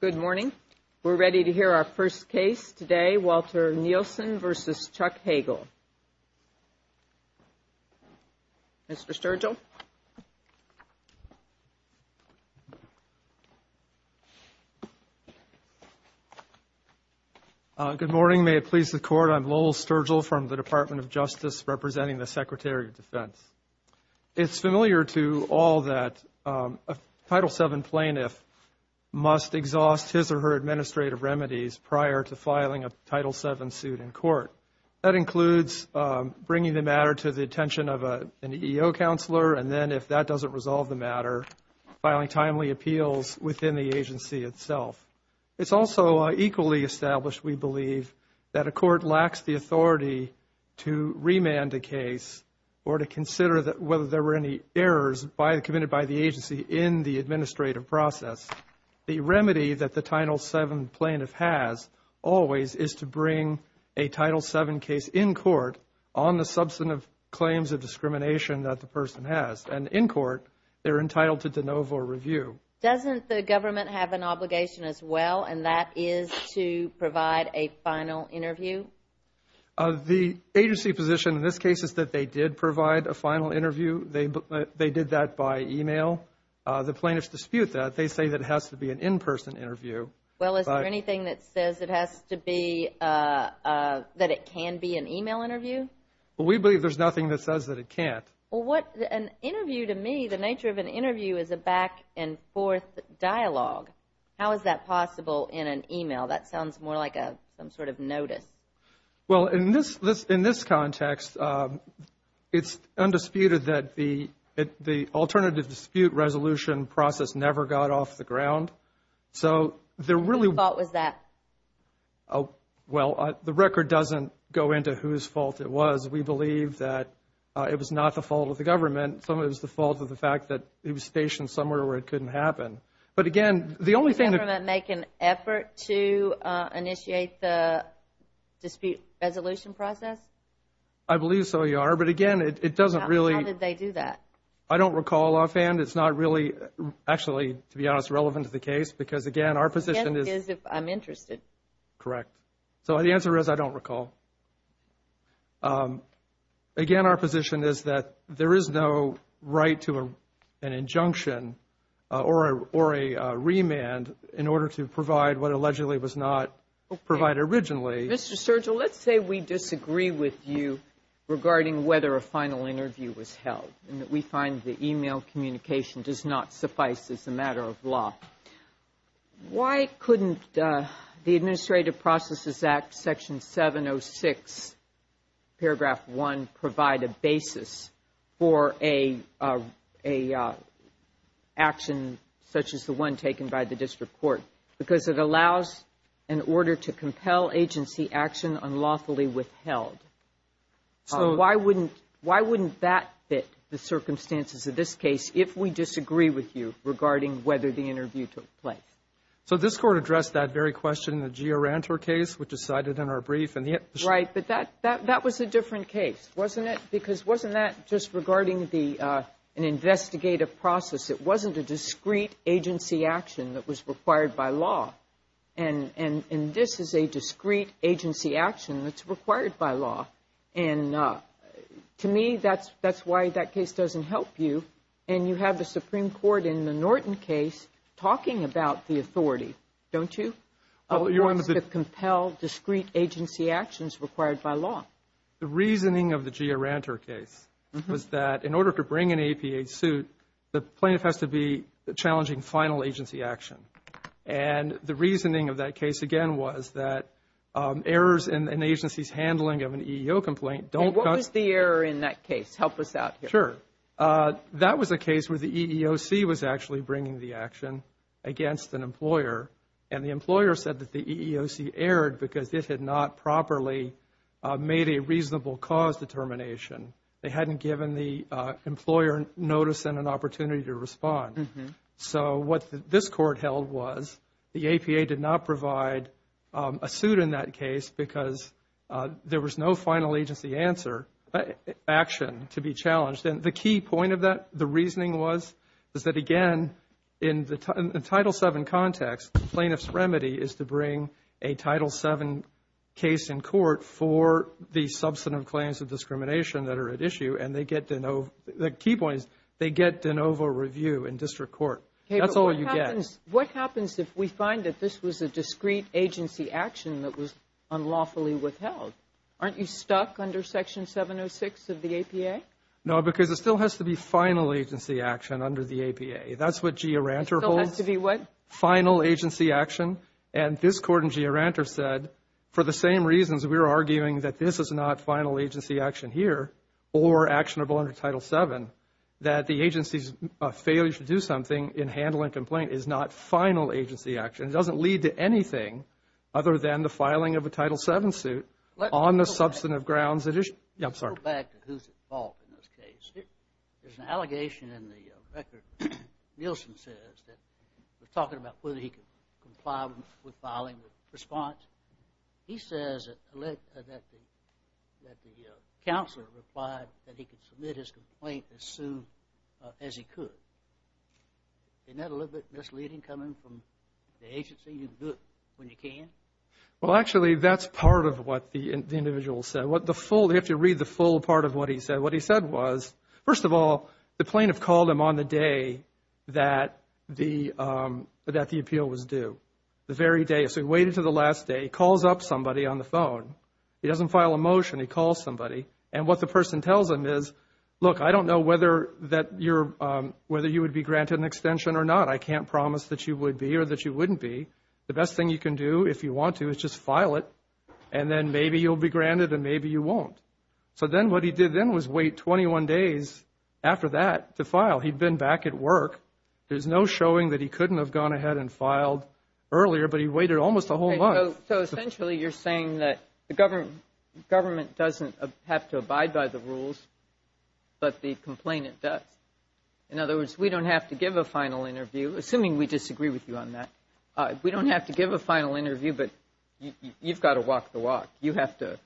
Good morning. We're ready to hear our first case today, Walter Nielsen v. Chuck Hagel. Mr. Sturgell? Good morning. May it please the Court, I'm Lowell Sturgell from the Department of Justice, representing the Secretary of Defense. It's familiar to all that a Title VII plaintiff must exhaust his or her administrative remedies prior to filing a Title VII suit in court. That includes bringing the matter to the attention of an EEO counselor and then, if that doesn't resolve the matter, filing timely appeals within the agency itself. It's also equally established, we believe, that a court lacks the authority to remand a case or to consider whether there were any errors committed by the agency in the administrative process. The remedy that the Title VII plaintiff has always is to bring a Title VII case in court on the substantive claims of discrimination that the person has. And in court, they're entitled to de novo review. Doesn't the government have an obligation as well, and that is to provide a final interview? The agency position in this case is that they did provide a final interview. They did that by e-mail. The plaintiffs dispute that. They say that it has to be an in-person interview. Well, is there anything that says it has to be, that it can be an e-mail interview? We believe there's nothing that says that it can't. Well, an interview, to me, the nature of an interview is a back-and-forth dialogue. How is that possible in an e-mail? That sounds more like some sort of notice. Well, in this context, it's undisputed that the alternative dispute resolution process never got off the ground. So there really... Whose fault was that? Well, the record doesn't go into whose fault it was. We believe that it was not the fault of the government. Some of it was the fault of the fact that it was stationed somewhere where it couldn't happen. But, again, the only thing... Did the government make an effort to initiate the dispute resolution process? I believe so, Your Honor, but, again, it doesn't really... How did they do that? I don't recall offhand. It's not really, actually, to be honest, relevant to the case because, again, our position is... Correct. So the answer is, I don't recall. Again, our position is that there is no right to an injunction or a remand in order to provide what allegedly was not provided originally. Mr. Sergio, let's say we disagree with you regarding whether a final interview was held and that we find the e-mail communication does not suffice as a matter of law. Why couldn't the Administrative Processes Act, Section 706, Paragraph 1, provide a basis for an action such as the one taken by the district court? Because it allows an order to compel agency action unlawfully withheld. So why wouldn't that fit the circumstances of this case if we disagree with you regarding whether the interview took place? So this Court addressed that very question in the Gioranto case, which is cited in our brief. Right, but that was a different case, wasn't it? Because wasn't that just regarding an investigative process? It wasn't a discrete agency action that was required by law. And this is a discrete agency action that's required by law. And to me, that's why that case doesn't help you. And you have the Supreme Court in the Norton case talking about the authority, don't you? It wants to compel discrete agency actions required by law. The reasoning of the Gioranto case was that in order to bring an APA suit, the plaintiff has to be challenging final agency action. And the reasoning of that case, again, was that errors in an agency's handling of an EEO complaint don't come. And what was the error in that case? Help us out here. Sure. That was a case where the EEOC was actually bringing the action against an employer, and the employer said that the EEOC erred because it had not properly made a reasonable cause determination. They hadn't given the employer notice and an opportunity to respond. So what this court held was the APA did not provide a suit in that case because there was no final agency action to be challenged. And the key point of that, the reasoning was, is that, again, in the Title VII context, the plaintiff's remedy is to bring a Title VII case in court for the substantive claims of discrimination that are at issue. The key point is they get de novo review in district court. That's all you get. What happens if we find that this was a discrete agency action that was unlawfully withheld? Aren't you stuck under Section 706 of the APA? No, because it still has to be final agency action under the APA. That's what Gioranto holds. It still has to be what? Final agency action. And this court in Gioranto said, for the same reasons we're arguing that this is not final agency action here or actionable under Title VII, that the agency's failure to do something in handle and complaint is not final agency action. It doesn't lead to anything other than the filing of a Title VII suit on the substantive grounds that issue. Let's go back. Yeah, I'm sorry. Let's go back to who's at fault in this case. There's an allegation in the record. Nielsen says that we're talking about whether he could comply with filing the response. He says that the counselor replied that he could submit his complaint as soon as he could. Isn't that a little bit misleading coming from the agency? You can do it when you can? Well, actually, that's part of what the individual said. You have to read the full part of what he said. First of all, the plaintiff called him on the day that the appeal was due, the very day. So he waited until the last day. He calls up somebody on the phone. He doesn't file a motion. He calls somebody. And what the person tells him is, look, I don't know whether you would be granted an extension or not. I can't promise that you would be or that you wouldn't be. The best thing you can do, if you want to, is just file it, and then maybe you'll be granted and maybe you won't. So then what he did then was wait 21 days after that to file. He'd been back at work. There's no showing that he couldn't have gone ahead and filed earlier, but he waited almost a whole month. So essentially you're saying that the government doesn't have to abide by the rules, but the complainant does. In other words, we don't have to give a final interview, assuming we disagree with you on that. We don't have to give a final interview, but you've got to walk the walk. You have to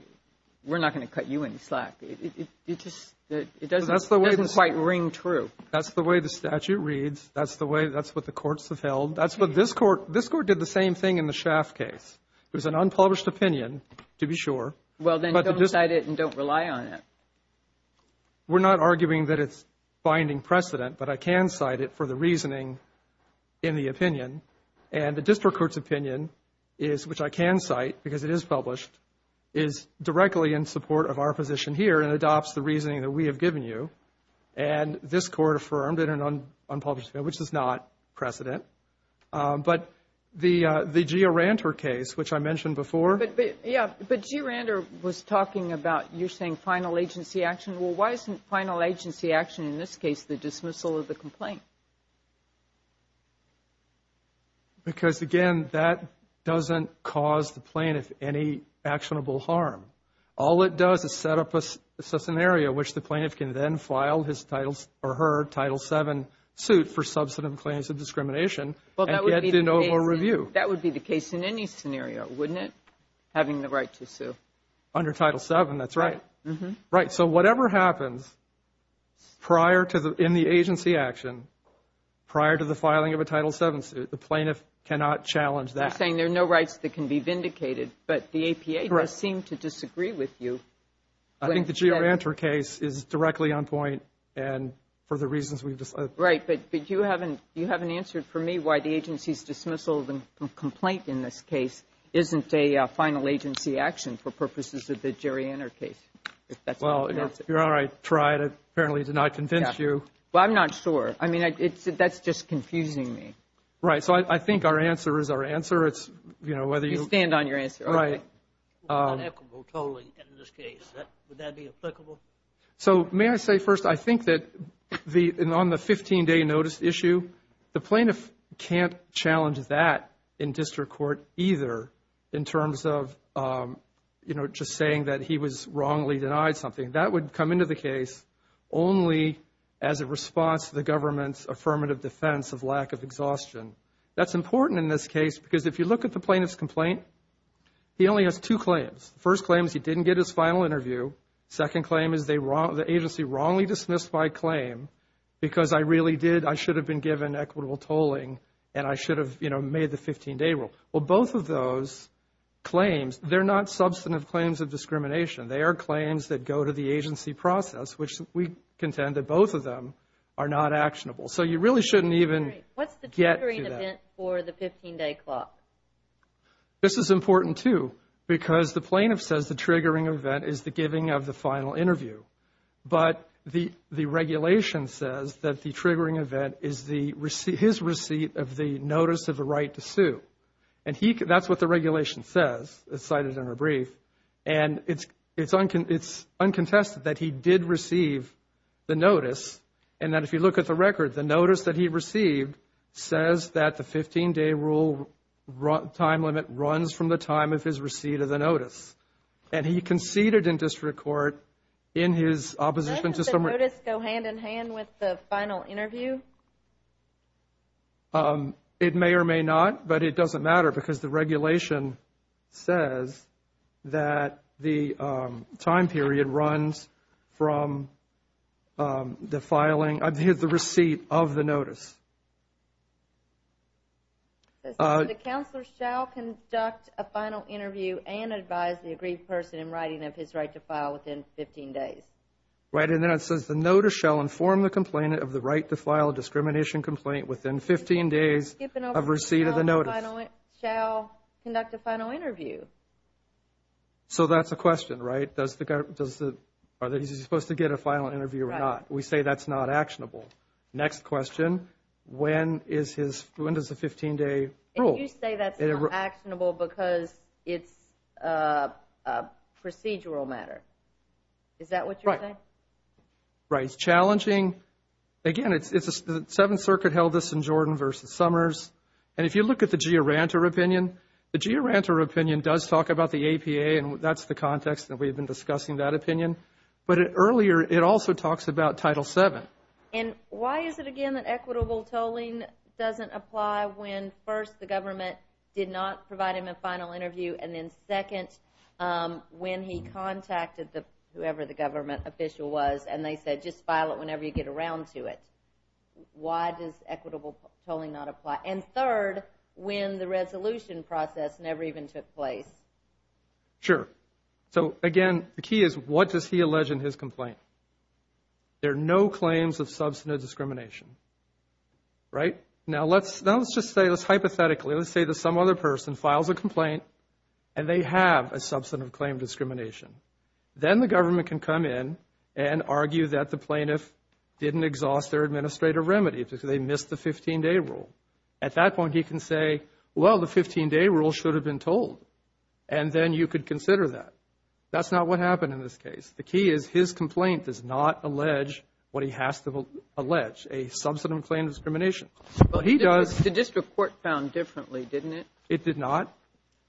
– we're not going to cut you any slack. It just – it doesn't quite ring true. That's the way the statute reads. That's the way – that's what the courts have held. That's what this court – this court did the same thing in the Schaaf case. It was an unpublished opinion, to be sure. Well, then don't cite it and don't rely on it. We're not arguing that it's finding precedent, but I can cite it for the reasoning in the opinion. And the district court's opinion is, which I can cite because it is published, is directly in support of our position here and adopts the reasoning that we have given you. And this court affirmed it in an unpublished opinion, which is not precedent. But the GeoRanter case, which I mentioned before. But, yeah, but GeoRanter was talking about you saying final agency action. Well, why isn't final agency action in this case the dismissal of the complaint? Because, again, that doesn't cause the plaintiff any actionable harm. All it does is set up a scenario in which the plaintiff can then file his titles or her Title VII suit for substantive claims of discrimination and get to no more review. That would be the case in any scenario, wouldn't it, having the right to sue? Under Title VII, that's right. Right, so whatever happens in the agency action prior to the filing of a Title VII suit, the plaintiff cannot challenge that. You're saying there are no rights that can be vindicated, but the APA does seem to disagree with you. I think the GeoRanter case is directly on point and for the reasons we've discussed. Right, but you haven't answered for me why the agency's dismissal of the complaint in this case isn't a final agency action for purposes of the GeoRanter case. Well, if you're all right, try it. Apparently it did not convince you. Well, I'm not sure. I mean, that's just confusing me. Right, so I think our answer is our answer. It's, you know, whether you ---- You stand on your answer. Right. Unequal tolling in this case. Would that be applicable? So may I say first, I think that on the 15-day notice issue, the plaintiff can't challenge that in district court either in terms of, you know, just saying that he was wrongly denied something. That would come into the case only as a response to the government's affirmative defense of lack of exhaustion. That's important in this case because if you look at the plaintiff's complaint, he only has two claims. The first claim is he didn't get his final interview. Second claim is the agency wrongly dismissed my claim because I really did, I should have been given equitable tolling and I should have, you know, made the 15-day rule. Well, both of those claims, they're not substantive claims of discrimination. They are claims that go to the agency process, which we contend that both of them are not actionable. So you really shouldn't even get to that. What's the triggering event for the 15-day clock? This is important, too, because the plaintiff says the triggering event is the giving of the final interview. But the regulation says that the triggering event is his receipt of the notice of the right to sue. And that's what the regulation says. It's cited in our brief. And it's uncontested that he did receive the notice and that if you look at the record, the notice that he received says that the 15-day rule time limit runs from the time of his receipt of the notice. And he conceded in district court in his opposition to summary. Doesn't the notice go hand in hand with the final interview? It may or may not, but it doesn't matter because the regulation says that the time period runs from the filing, the receipt of the notice. The counselor shall conduct a final interview and advise the agreed person in writing of his right to file within 15 days. Right. And then it says the notice shall inform the complainant of the right to file a discrimination complaint within 15 days of receipt of the notice. He shall conduct a final interview. So that's a question, right? Is he supposed to get a final interview or not? We say that's not actionable. Next question, when is his 15-day rule? And you say that's not actionable because it's a procedural matter. Is that what you're saying? Right. It's challenging. Again, it's the Seventh Circuit held this in Jordan v. Summers. And if you look at the Giuranta opinion, the Giuranta opinion does talk about the APA, and that's the context that we've been discussing that opinion. But earlier, it also talks about Title VII. And why is it, again, that equitable tolling doesn't apply when, first, the government did not provide him a final interview, and then, second, when he contacted whoever the government official was and they said, just file it whenever you get around to it? Why does equitable tolling not apply? And, third, when the resolution process never even took place? Sure. So, again, the key is what does he allege in his complaint? There are no claims of substantive discrimination. Right? Now, let's just say, let's hypothetically, let's say that some other person files a complaint and they have a substantive claim of discrimination. Then the government can come in and argue that the plaintiff didn't exhaust their administrative remedy because they missed the 15-day rule. At that point, he can say, well, the 15-day rule should have been told. And then you could consider that. That's not what happened in this case. The key is his complaint does not allege what he has to allege, a substantive claim of discrimination. But he does. But the district court found differently, didn't it? It did not.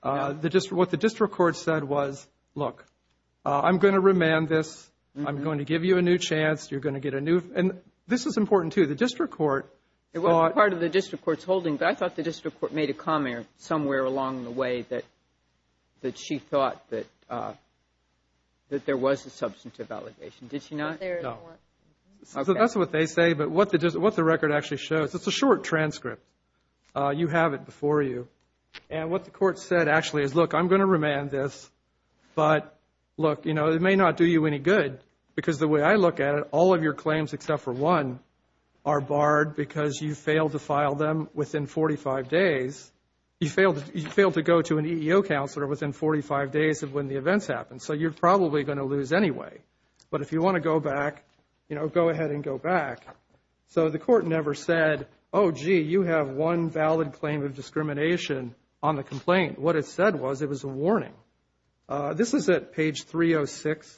What the district court said was, look, I'm going to remand this. I'm going to give you a new chance. You're going to get a new. And this is important, too. The district court thought. It wasn't part of the district court's holding, but I thought the district court made a comment somewhere along the way that she thought that there was a substantive allegation. Did she not? No. So that's what they say. But what the record actually shows, it's a short transcript. You have it before you. And what the court said actually is, look, I'm going to remand this. But, look, it may not do you any good because the way I look at it, all of your claims except for one are barred because you failed to file them within 45 days. You failed to go to an EEO counselor within 45 days of when the events happened. So you're probably going to lose anyway. But if you want to go back, you know, go ahead and go back. So the court never said, oh, gee, you have one valid claim of discrimination on the complaint. What it said was it was a warning. This is at page 306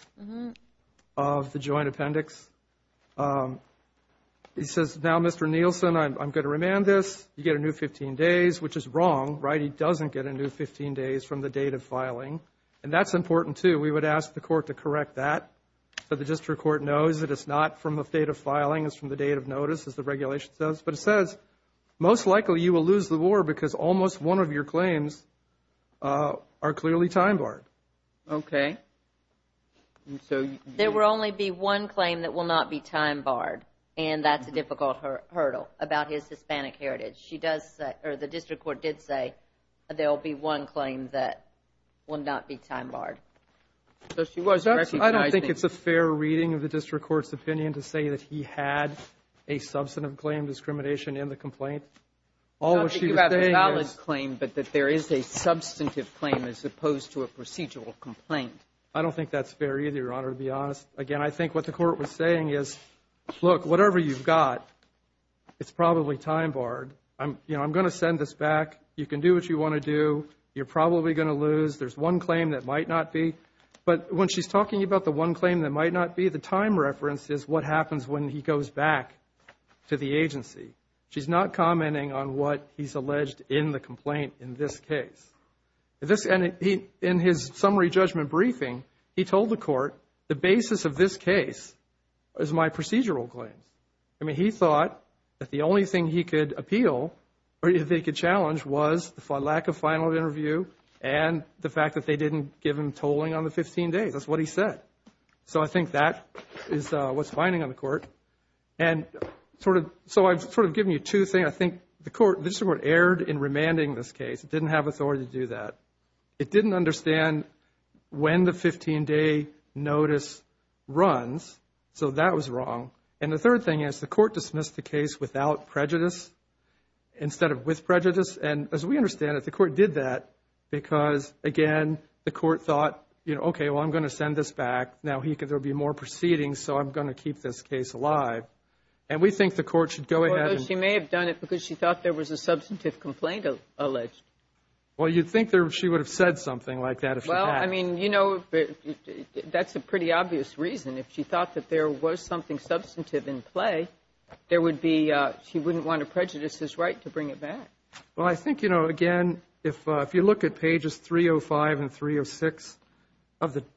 of the joint appendix. It says, now, Mr. Nielsen, I'm going to remand this. You get a new 15 days, which is wrong, right? He doesn't get a new 15 days from the date of filing. And that's important, too. We would ask the court to correct that so the district court knows that it's not from the date of filing. It's from the date of notice, as the regulation says. But it says most likely you will lose the war because almost one of your claims are clearly time barred. Okay. There will only be one claim that will not be time barred, and that's a difficult hurdle about his Hispanic heritage. The district court did say there will be one claim that will not be time barred. I don't think it's a fair reading of the district court's opinion to say that he had a substantive claim, discrimination in the complaint. Not that you have a valid claim, but that there is a substantive claim as opposed to a procedural complaint. I don't think that's fair either, Your Honor, to be honest. Again, I think what the court was saying is, look, whatever you've got, it's probably time barred. You know, I'm going to send this back. You can do what you want to do. You're probably going to lose. There's one claim that might not be. But when she's talking about the one claim that might not be, the time reference is what happens when he goes back to the agency. She's not commenting on what he's alleged in the complaint in this case. In his summary judgment briefing, he told the court, the basis of this case is my procedural claim. I mean, he thought that the only thing he could appeal or they could challenge was the lack of final interview and the fact that they didn't give him tolling on the 15 days. That's what he said. So I think that is what's binding on the court. And so I've sort of given you two things. I think the court, this is what erred in remanding this case. It didn't have authority to do that. It didn't understand when the 15-day notice runs, so that was wrong. And the third thing is the court dismissed the case without prejudice instead of with prejudice. And as we understand it, the court did that because, again, the court thought, you know, okay, well, I'm going to send this back. Now, there will be more proceedings, so I'm going to keep this case alive. And we think the court should go ahead. Well, she may have done it because she thought there was a substantive complaint alleged. Well, you'd think she would have said something like that if she had. Well, I mean, you know, that's a pretty obvious reason. If she thought that there was something substantive in play, there would be, she wouldn't want to prejudice his right to bring it back. Well, I think, you know, again, if you look at pages 305 and 306,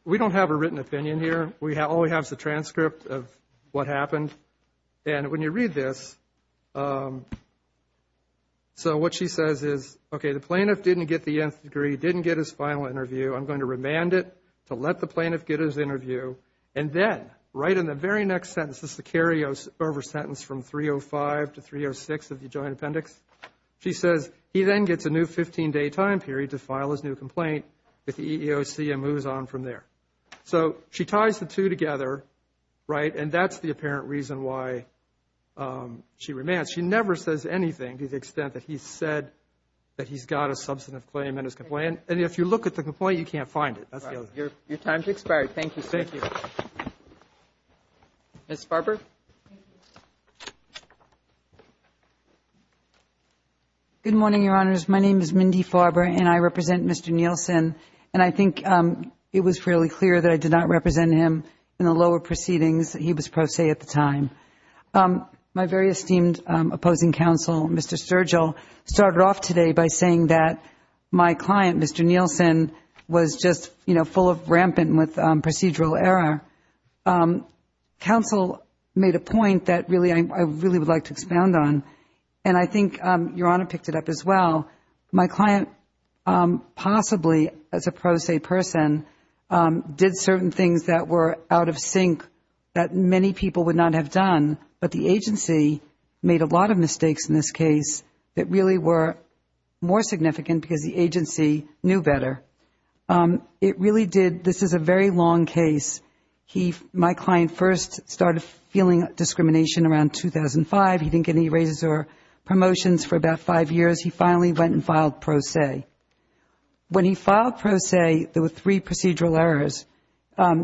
we don't have a written opinion here. All we have is a transcript of what happened. And when you read this, so what she says is, okay, the plaintiff didn't get the Nth degree, didn't get his final interview. I'm going to remand it to let the plaintiff get his interview. And then right in the very next sentence, this is the carryover sentence from 305 to 306 of the joint appendix, she says he then gets a new 15-day time period to file his new complaint if the EEOC moves on from there. So she ties the two together, right, and that's the apparent reason why she remands. She never says anything to the extent that he said that he's got a substantive claim in his complaint. And if you look at the complaint, you can't find it. Your time has expired. Thank you, sir. Thank you. Ms. Farber. Good morning, Your Honors. My name is Mindy Farber, and I represent Mr. Nielsen. And I think it was fairly clear that I did not represent him in the lower proceedings. He was pro se at the time. My very esteemed opposing counsel, Mr. Sturgill, started off today by saying that my client, Mr. Nielsen, was just full of rampant procedural error. Counsel made a point that I really would like to expound on, and I think Your Honor picked it up as well. My client possibly, as a pro se person, did certain things that were out of sync that many people would not have done, but the agency made a lot of mistakes in this case that really were more significant because the agency knew better. It really did. This is a very long case. My client first started feeling discrimination around 2005. He didn't get any raises or promotions for about five years. He finally went and filed pro se. When he filed pro se, there were three procedural errors.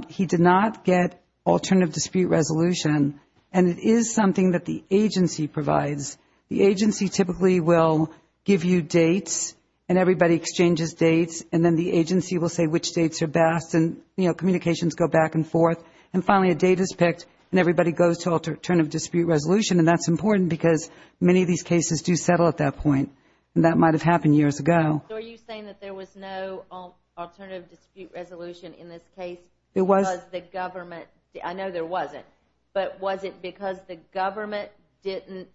He did not get alternative dispute resolution, and it is something that the agency provides. The agency typically will give you dates, and everybody exchanges dates, and then the agency will say which dates are best, and, you know, communications go back and forth. And finally, a date is picked, and everybody goes to alternative dispute resolution, and that's important because many of these cases do settle at that point, and that might have happened years ago. So are you saying that there was no alternative dispute resolution in this case because the government – I know there wasn't, but was it because the government didn't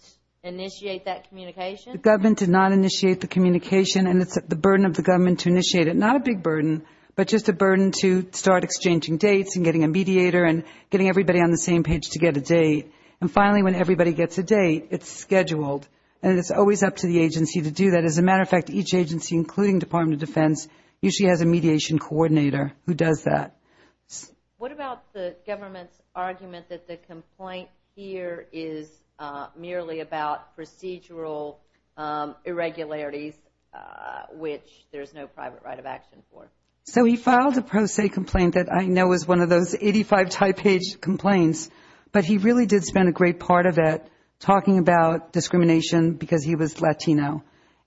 initiate that communication? The government did not initiate the communication, and it's the burden of the government to initiate it. Not a big burden, but just a burden to start exchanging dates and getting a mediator and getting everybody on the same page to get a date. And finally, when everybody gets a date, it's scheduled, and it's always up to the agency to do that. As a matter of fact, each agency, including Department of Defense, usually has a mediation coordinator who does that. What about the government's argument that the complaint here is merely about procedural irregularities, which there's no private right of action for? So he filed a pro se complaint that I know is one of those 85 type page complaints, but he really did spend a great part of it talking about discrimination because he was Latino.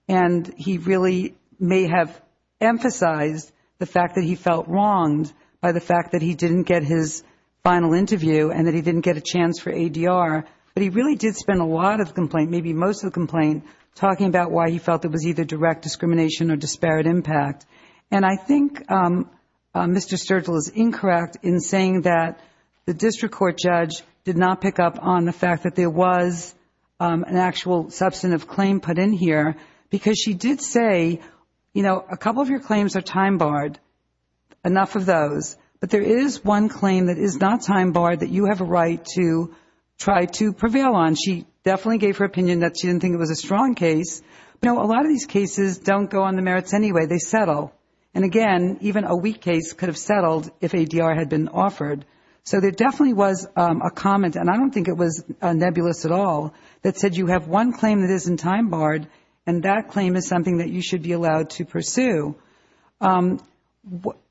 And he really may have emphasized the fact that he felt wronged by the fact that he didn't get his final interview and that he didn't get a chance for ADR, but he really did spend a lot of the complaint, maybe most of the complaint, talking about why he felt it was either direct discrimination or disparate impact. And I think Mr. Sturgill is incorrect in saying that the district court judge did not pick up on the fact that there was an actual substantive claim put in here because she did say, you know, a couple of your claims are time barred, enough of those, but there is one claim that is not time barred that you have a right to try to prevail on. She definitely gave her opinion that she didn't think it was a strong case. You know, a lot of these cases don't go on the merits anyway. They settle. And again, even a weak case could have settled if ADR had been offered. So there definitely was a comment, and I don't think it was nebulous at all, that said you have one claim that isn't time barred and that claim is something that you should be allowed to pursue.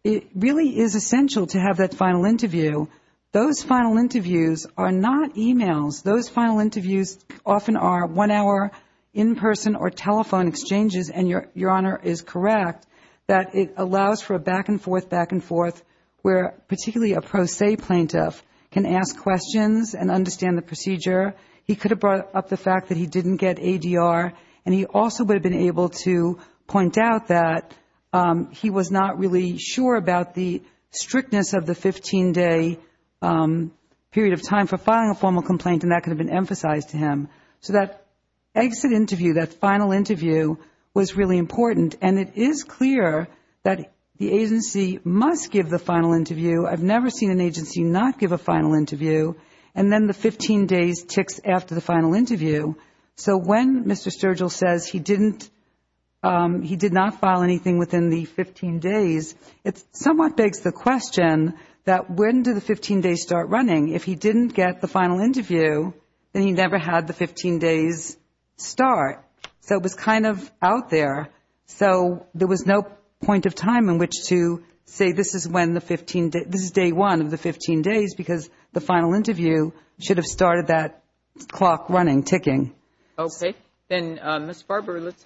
It really is essential to have that final interview. Those final interviews are not e-mails. Those final interviews often are one-hour in-person or telephone exchanges, and Your Honor is correct that it allows for a back-and-forth, back-and-forth, where particularly a pro se plaintiff can ask questions and understand the procedure. He could have brought up the fact that he didn't get ADR, and he also would have been able to point out that he was not really sure about the strictness of the 15-day period of time for filing a formal complaint, and that could have been emphasized to him. So that exit interview, that final interview was really important, and it is clear that the agency must give the final interview. I've never seen an agency not give a final interview, and then the 15 days ticks after the final interview. So when Mr. Sturgill says he did not file anything within the 15 days, it somewhat begs the question that when do the 15 days start running? If he didn't get the final interview, then he never had the 15 days start. So it was kind of out there. So there was no point of time in which to say this is day one of the 15 days because the final interview should have started that clock running, ticking. Okay. Then, Ms. Farber, let's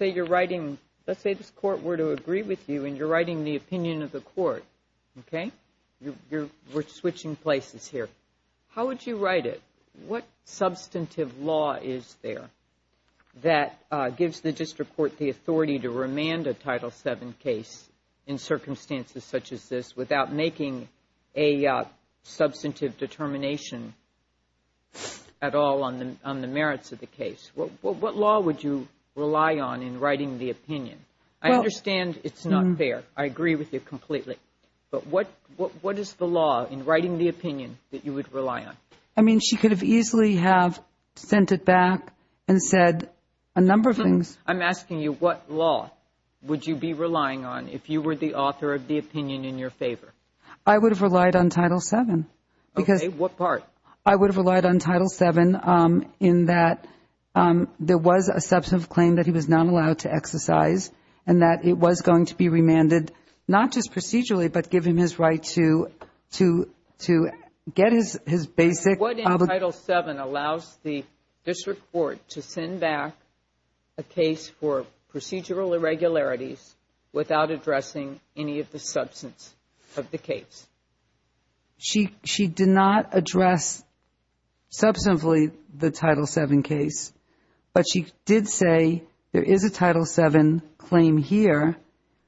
say this Court were to agree with you, and you're writing the opinion of the Court, okay? We're switching places here. How would you write it? What substantive law is there that gives the district court the authority to remand a Title VII case in circumstances such as this without making a substantive determination at all on the merits of the case? What law would you rely on in writing the opinion? I understand it's not fair. I agree with you completely. But what is the law in writing the opinion that you would rely on? I mean, she could have easily have sent it back and said a number of things. I'm asking you what law would you be relying on if you were the author of the opinion in your favor? I would have relied on Title VII. Okay. What part? I would have relied on Title VII in that there was a substantive claim that he was not allowed to exercise and that it was going to be remanded, not just procedurally, but give him his right to get his basic. What in Title VII allows the district court to send back a case for procedural irregularities without addressing any of the substance of the case? She did not address substantively the Title VII case, but she did say there is a Title VII claim here.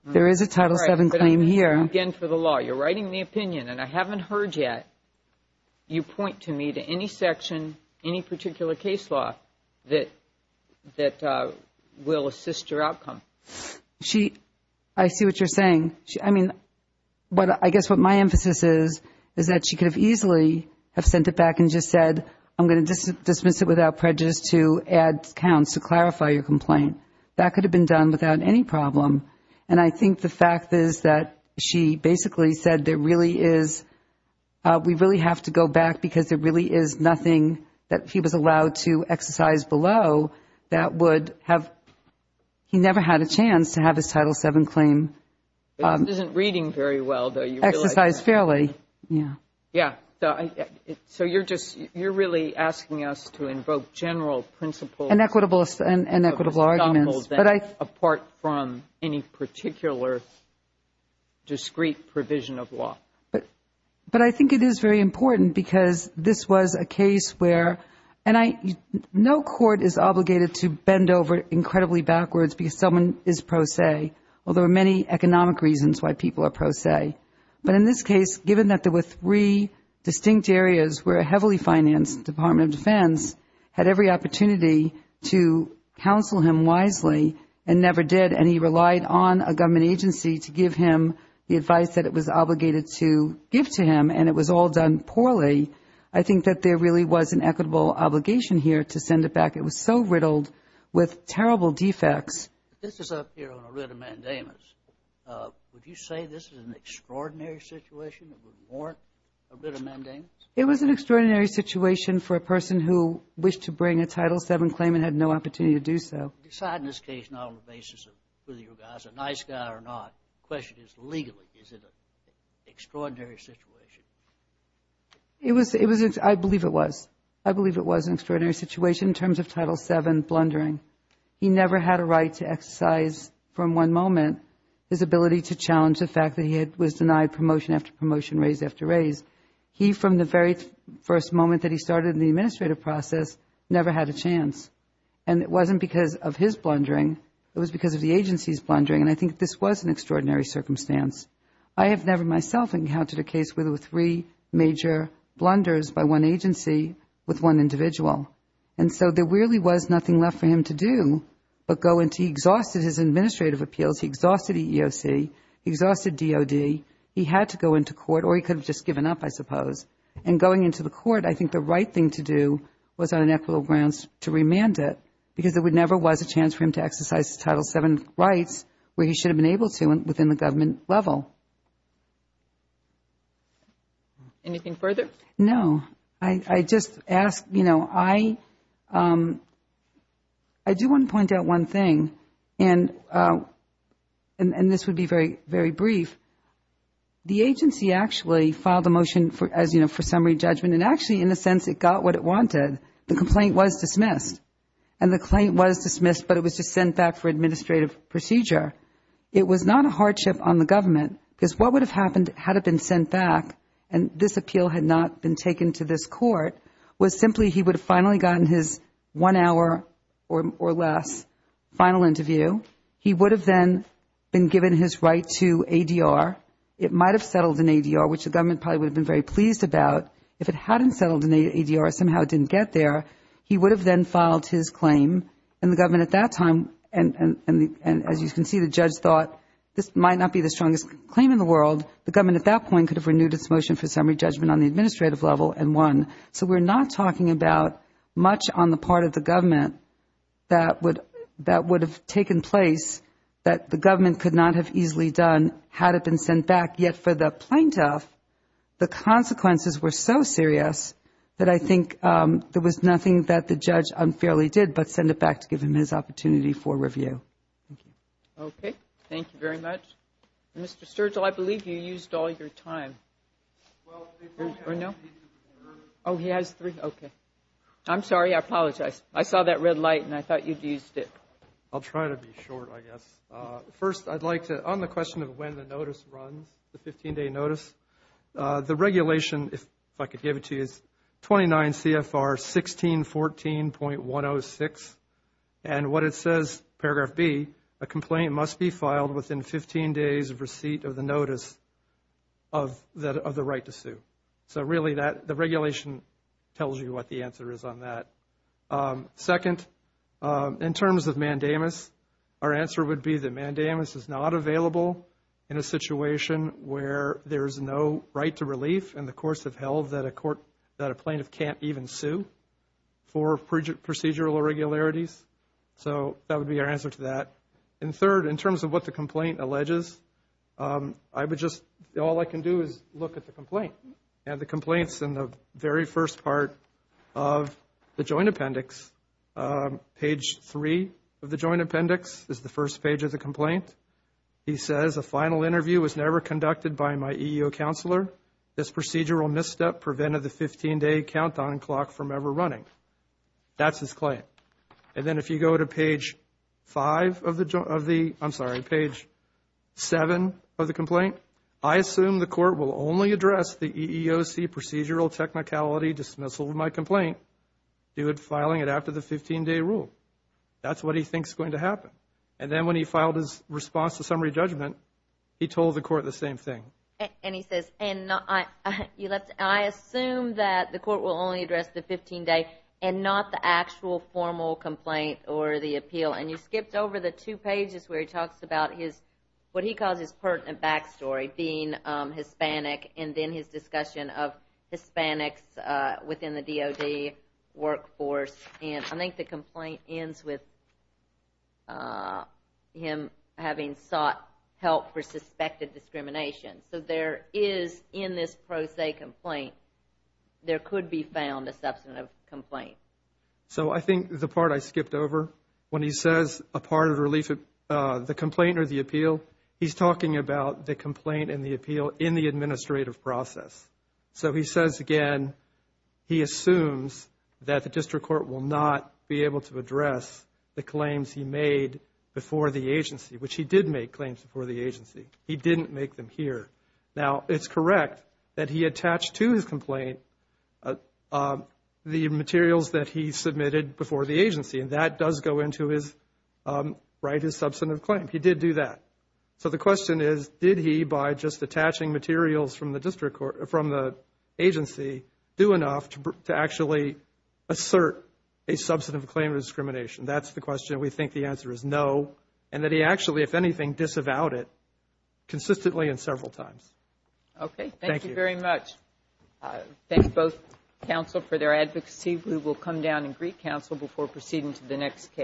There is a Title VII claim here. Again, for the law, you're writing the opinion, and I haven't heard yet you point to me to any section, any particular case law that will assist your outcome. I see what you're saying. I mean, I guess what my emphasis is is that she could have easily have sent it back and just said I'm going to dismiss it without prejudice to add counts to clarify your complaint. That could have been done without any problem, and I think the fact is that she basically said there really is we really have to go back because there really is nothing that he was allowed to exercise below that would have he never had a chance to have his Title VII claim exercised fairly. Yes. So you're really asking us to invoke general principles. And equitable arguments. Apart from any particular discrete provision of law. But I think it is very important because this was a case where, no court is obligated to bend over incredibly backwards because someone is pro se, although there are many economic reasons why people are pro se. But in this case, given that there were three distinct areas where a heavily financed Department of Defense had every opportunity to counsel him wisely and never did, and he relied on a government agency to give him the advice that it was obligated to give to him and it was all done poorly, I think that there really was an equitable obligation here to send it back. It was so riddled with terrible defects. This is up here on a writ of mandamus. Would you say this is an extraordinary situation that would warrant a writ of mandamus? It was an extraordinary situation for a person who wished to bring a Title VII claim and had no opportunity to do so. Decide in this case not on the basis of whether your guy is a nice guy or not. The question is legally, is it an extraordinary situation? I believe it was. I believe it was an extraordinary situation in terms of Title VII blundering. He never had a right to exercise from one moment his ability to challenge the fact that he was denied promotion after promotion, raise after raise. He, from the very first moment that he started in the administrative process, never had a chance. And it wasn't because of his blundering. It was because of the agency's blundering. And I think this was an extraordinary circumstance. I have never myself encountered a case where there were three major blunders by one agency with one individual. And so there really was nothing left for him to do but go into his administrative appeals. He exhausted EEOC. He exhausted DOD. He had to go into court or he could have just given up, I suppose. And going into the court, I think the right thing to do was on an equitable grounds to remand it because there never was a chance for him to exercise Title VII rights where he should have been able to within the government level. Anything further? No. I just ask, you know, I do want to point out one thing. And this would be very, very brief. The agency actually filed a motion as, you know, for summary judgment. And actually, in a sense, it got what it wanted. The complaint was dismissed. And the complaint was dismissed, but it was just sent back for administrative procedure. It was not a hardship on the government because what would have happened had it been sent back and this appeal had not been taken to this court was simply he would have finally gotten his one hour or less final interview. He would have then been given his right to ADR. It might have settled in ADR, which the government probably would have been very pleased about. If it hadn't settled in ADR, somehow it didn't get there, he would have then filed his claim. And the government at that time, and as you can see, the judge thought this might not be the strongest claim in the world. The government at that point could have renewed its motion for summary judgment on the administrative level and won. So we're not talking about much on the part of the government that would have taken place that the government could not have easily done had it been sent back. And yet for the plaintiff, the consequences were so serious that I think there was nothing that the judge unfairly did but send it back to give him his opportunity for review. Thank you. Okay. Thank you very much. Mr. Sturgill, I believe you used all your time. Well, I have three. Oh, he has three. Okay. I'm sorry. I apologize. I saw that red light and I thought you'd used it. I'll try to be short, I guess. First, I'd like to, on the question of when the notice runs, the 15-day notice, the regulation, if I could give it to you, is 29 CFR 1614.106. And what it says, paragraph B, a complaint must be filed within 15 days of receipt of the notice of the right to sue. So really the regulation tells you what the answer is on that. Second, in terms of mandamus, our answer would be that mandamus is not available in a situation where there is no right to relief in the course of hell that a court, that a plaintiff can't even sue for procedural irregularities. So that would be our answer to that. And third, in terms of what the complaint alleges, I would just, all I can do is look at the complaint. And the complaint's in the very first part of the joint appendix. Page 3 of the joint appendix is the first page of the complaint. He says, a final interview was never conducted by my EEO counselor. This procedural misstep prevented the 15-day countdown clock from ever running. That's his claim. And then if you go to page 5 of the, I'm sorry, page 7 of the complaint, I assume the court will only address the EEOC procedural technicality dismissal of my complaint, due to filing it after the 15-day rule. That's what he thinks is going to happen. And then when he filed his response to summary judgment, he told the court the same thing. And he says, I assume that the court will only address the 15-day and not the actual formal complaint or the appeal. And you skipped over the two pages where he talks about his, what he calls his pertinent backstory, being Hispanic and then his discussion of Hispanics within the DOD workforce. And I think the complaint ends with him having sought help for suspected discrimination. So there is, in this pro se complaint, there could be found a substantive complaint. So I think the part I skipped over, when he says a part of the complaint or the appeal, he's talking about the complaint and the appeal in the administrative process. So he says again, he assumes that the district court will not be able to address the claims he made before the agency, which he did make claims before the agency. He didn't make them here. Now, it's correct that he attached to his complaint the materials that he submitted before the agency. And that does go into his, right, his substantive claim. He did do that. So the question is, did he, by just attaching materials from the agency, do enough to actually assert a substantive claim of discrimination? That's the question. And we think the answer is no. And that he actually, if anything, disavowed it consistently and several times. Okay. Thank you. Thank you very much. Thank both counsel for their advocacy. We will come down and greet counsel before proceeding to the next case.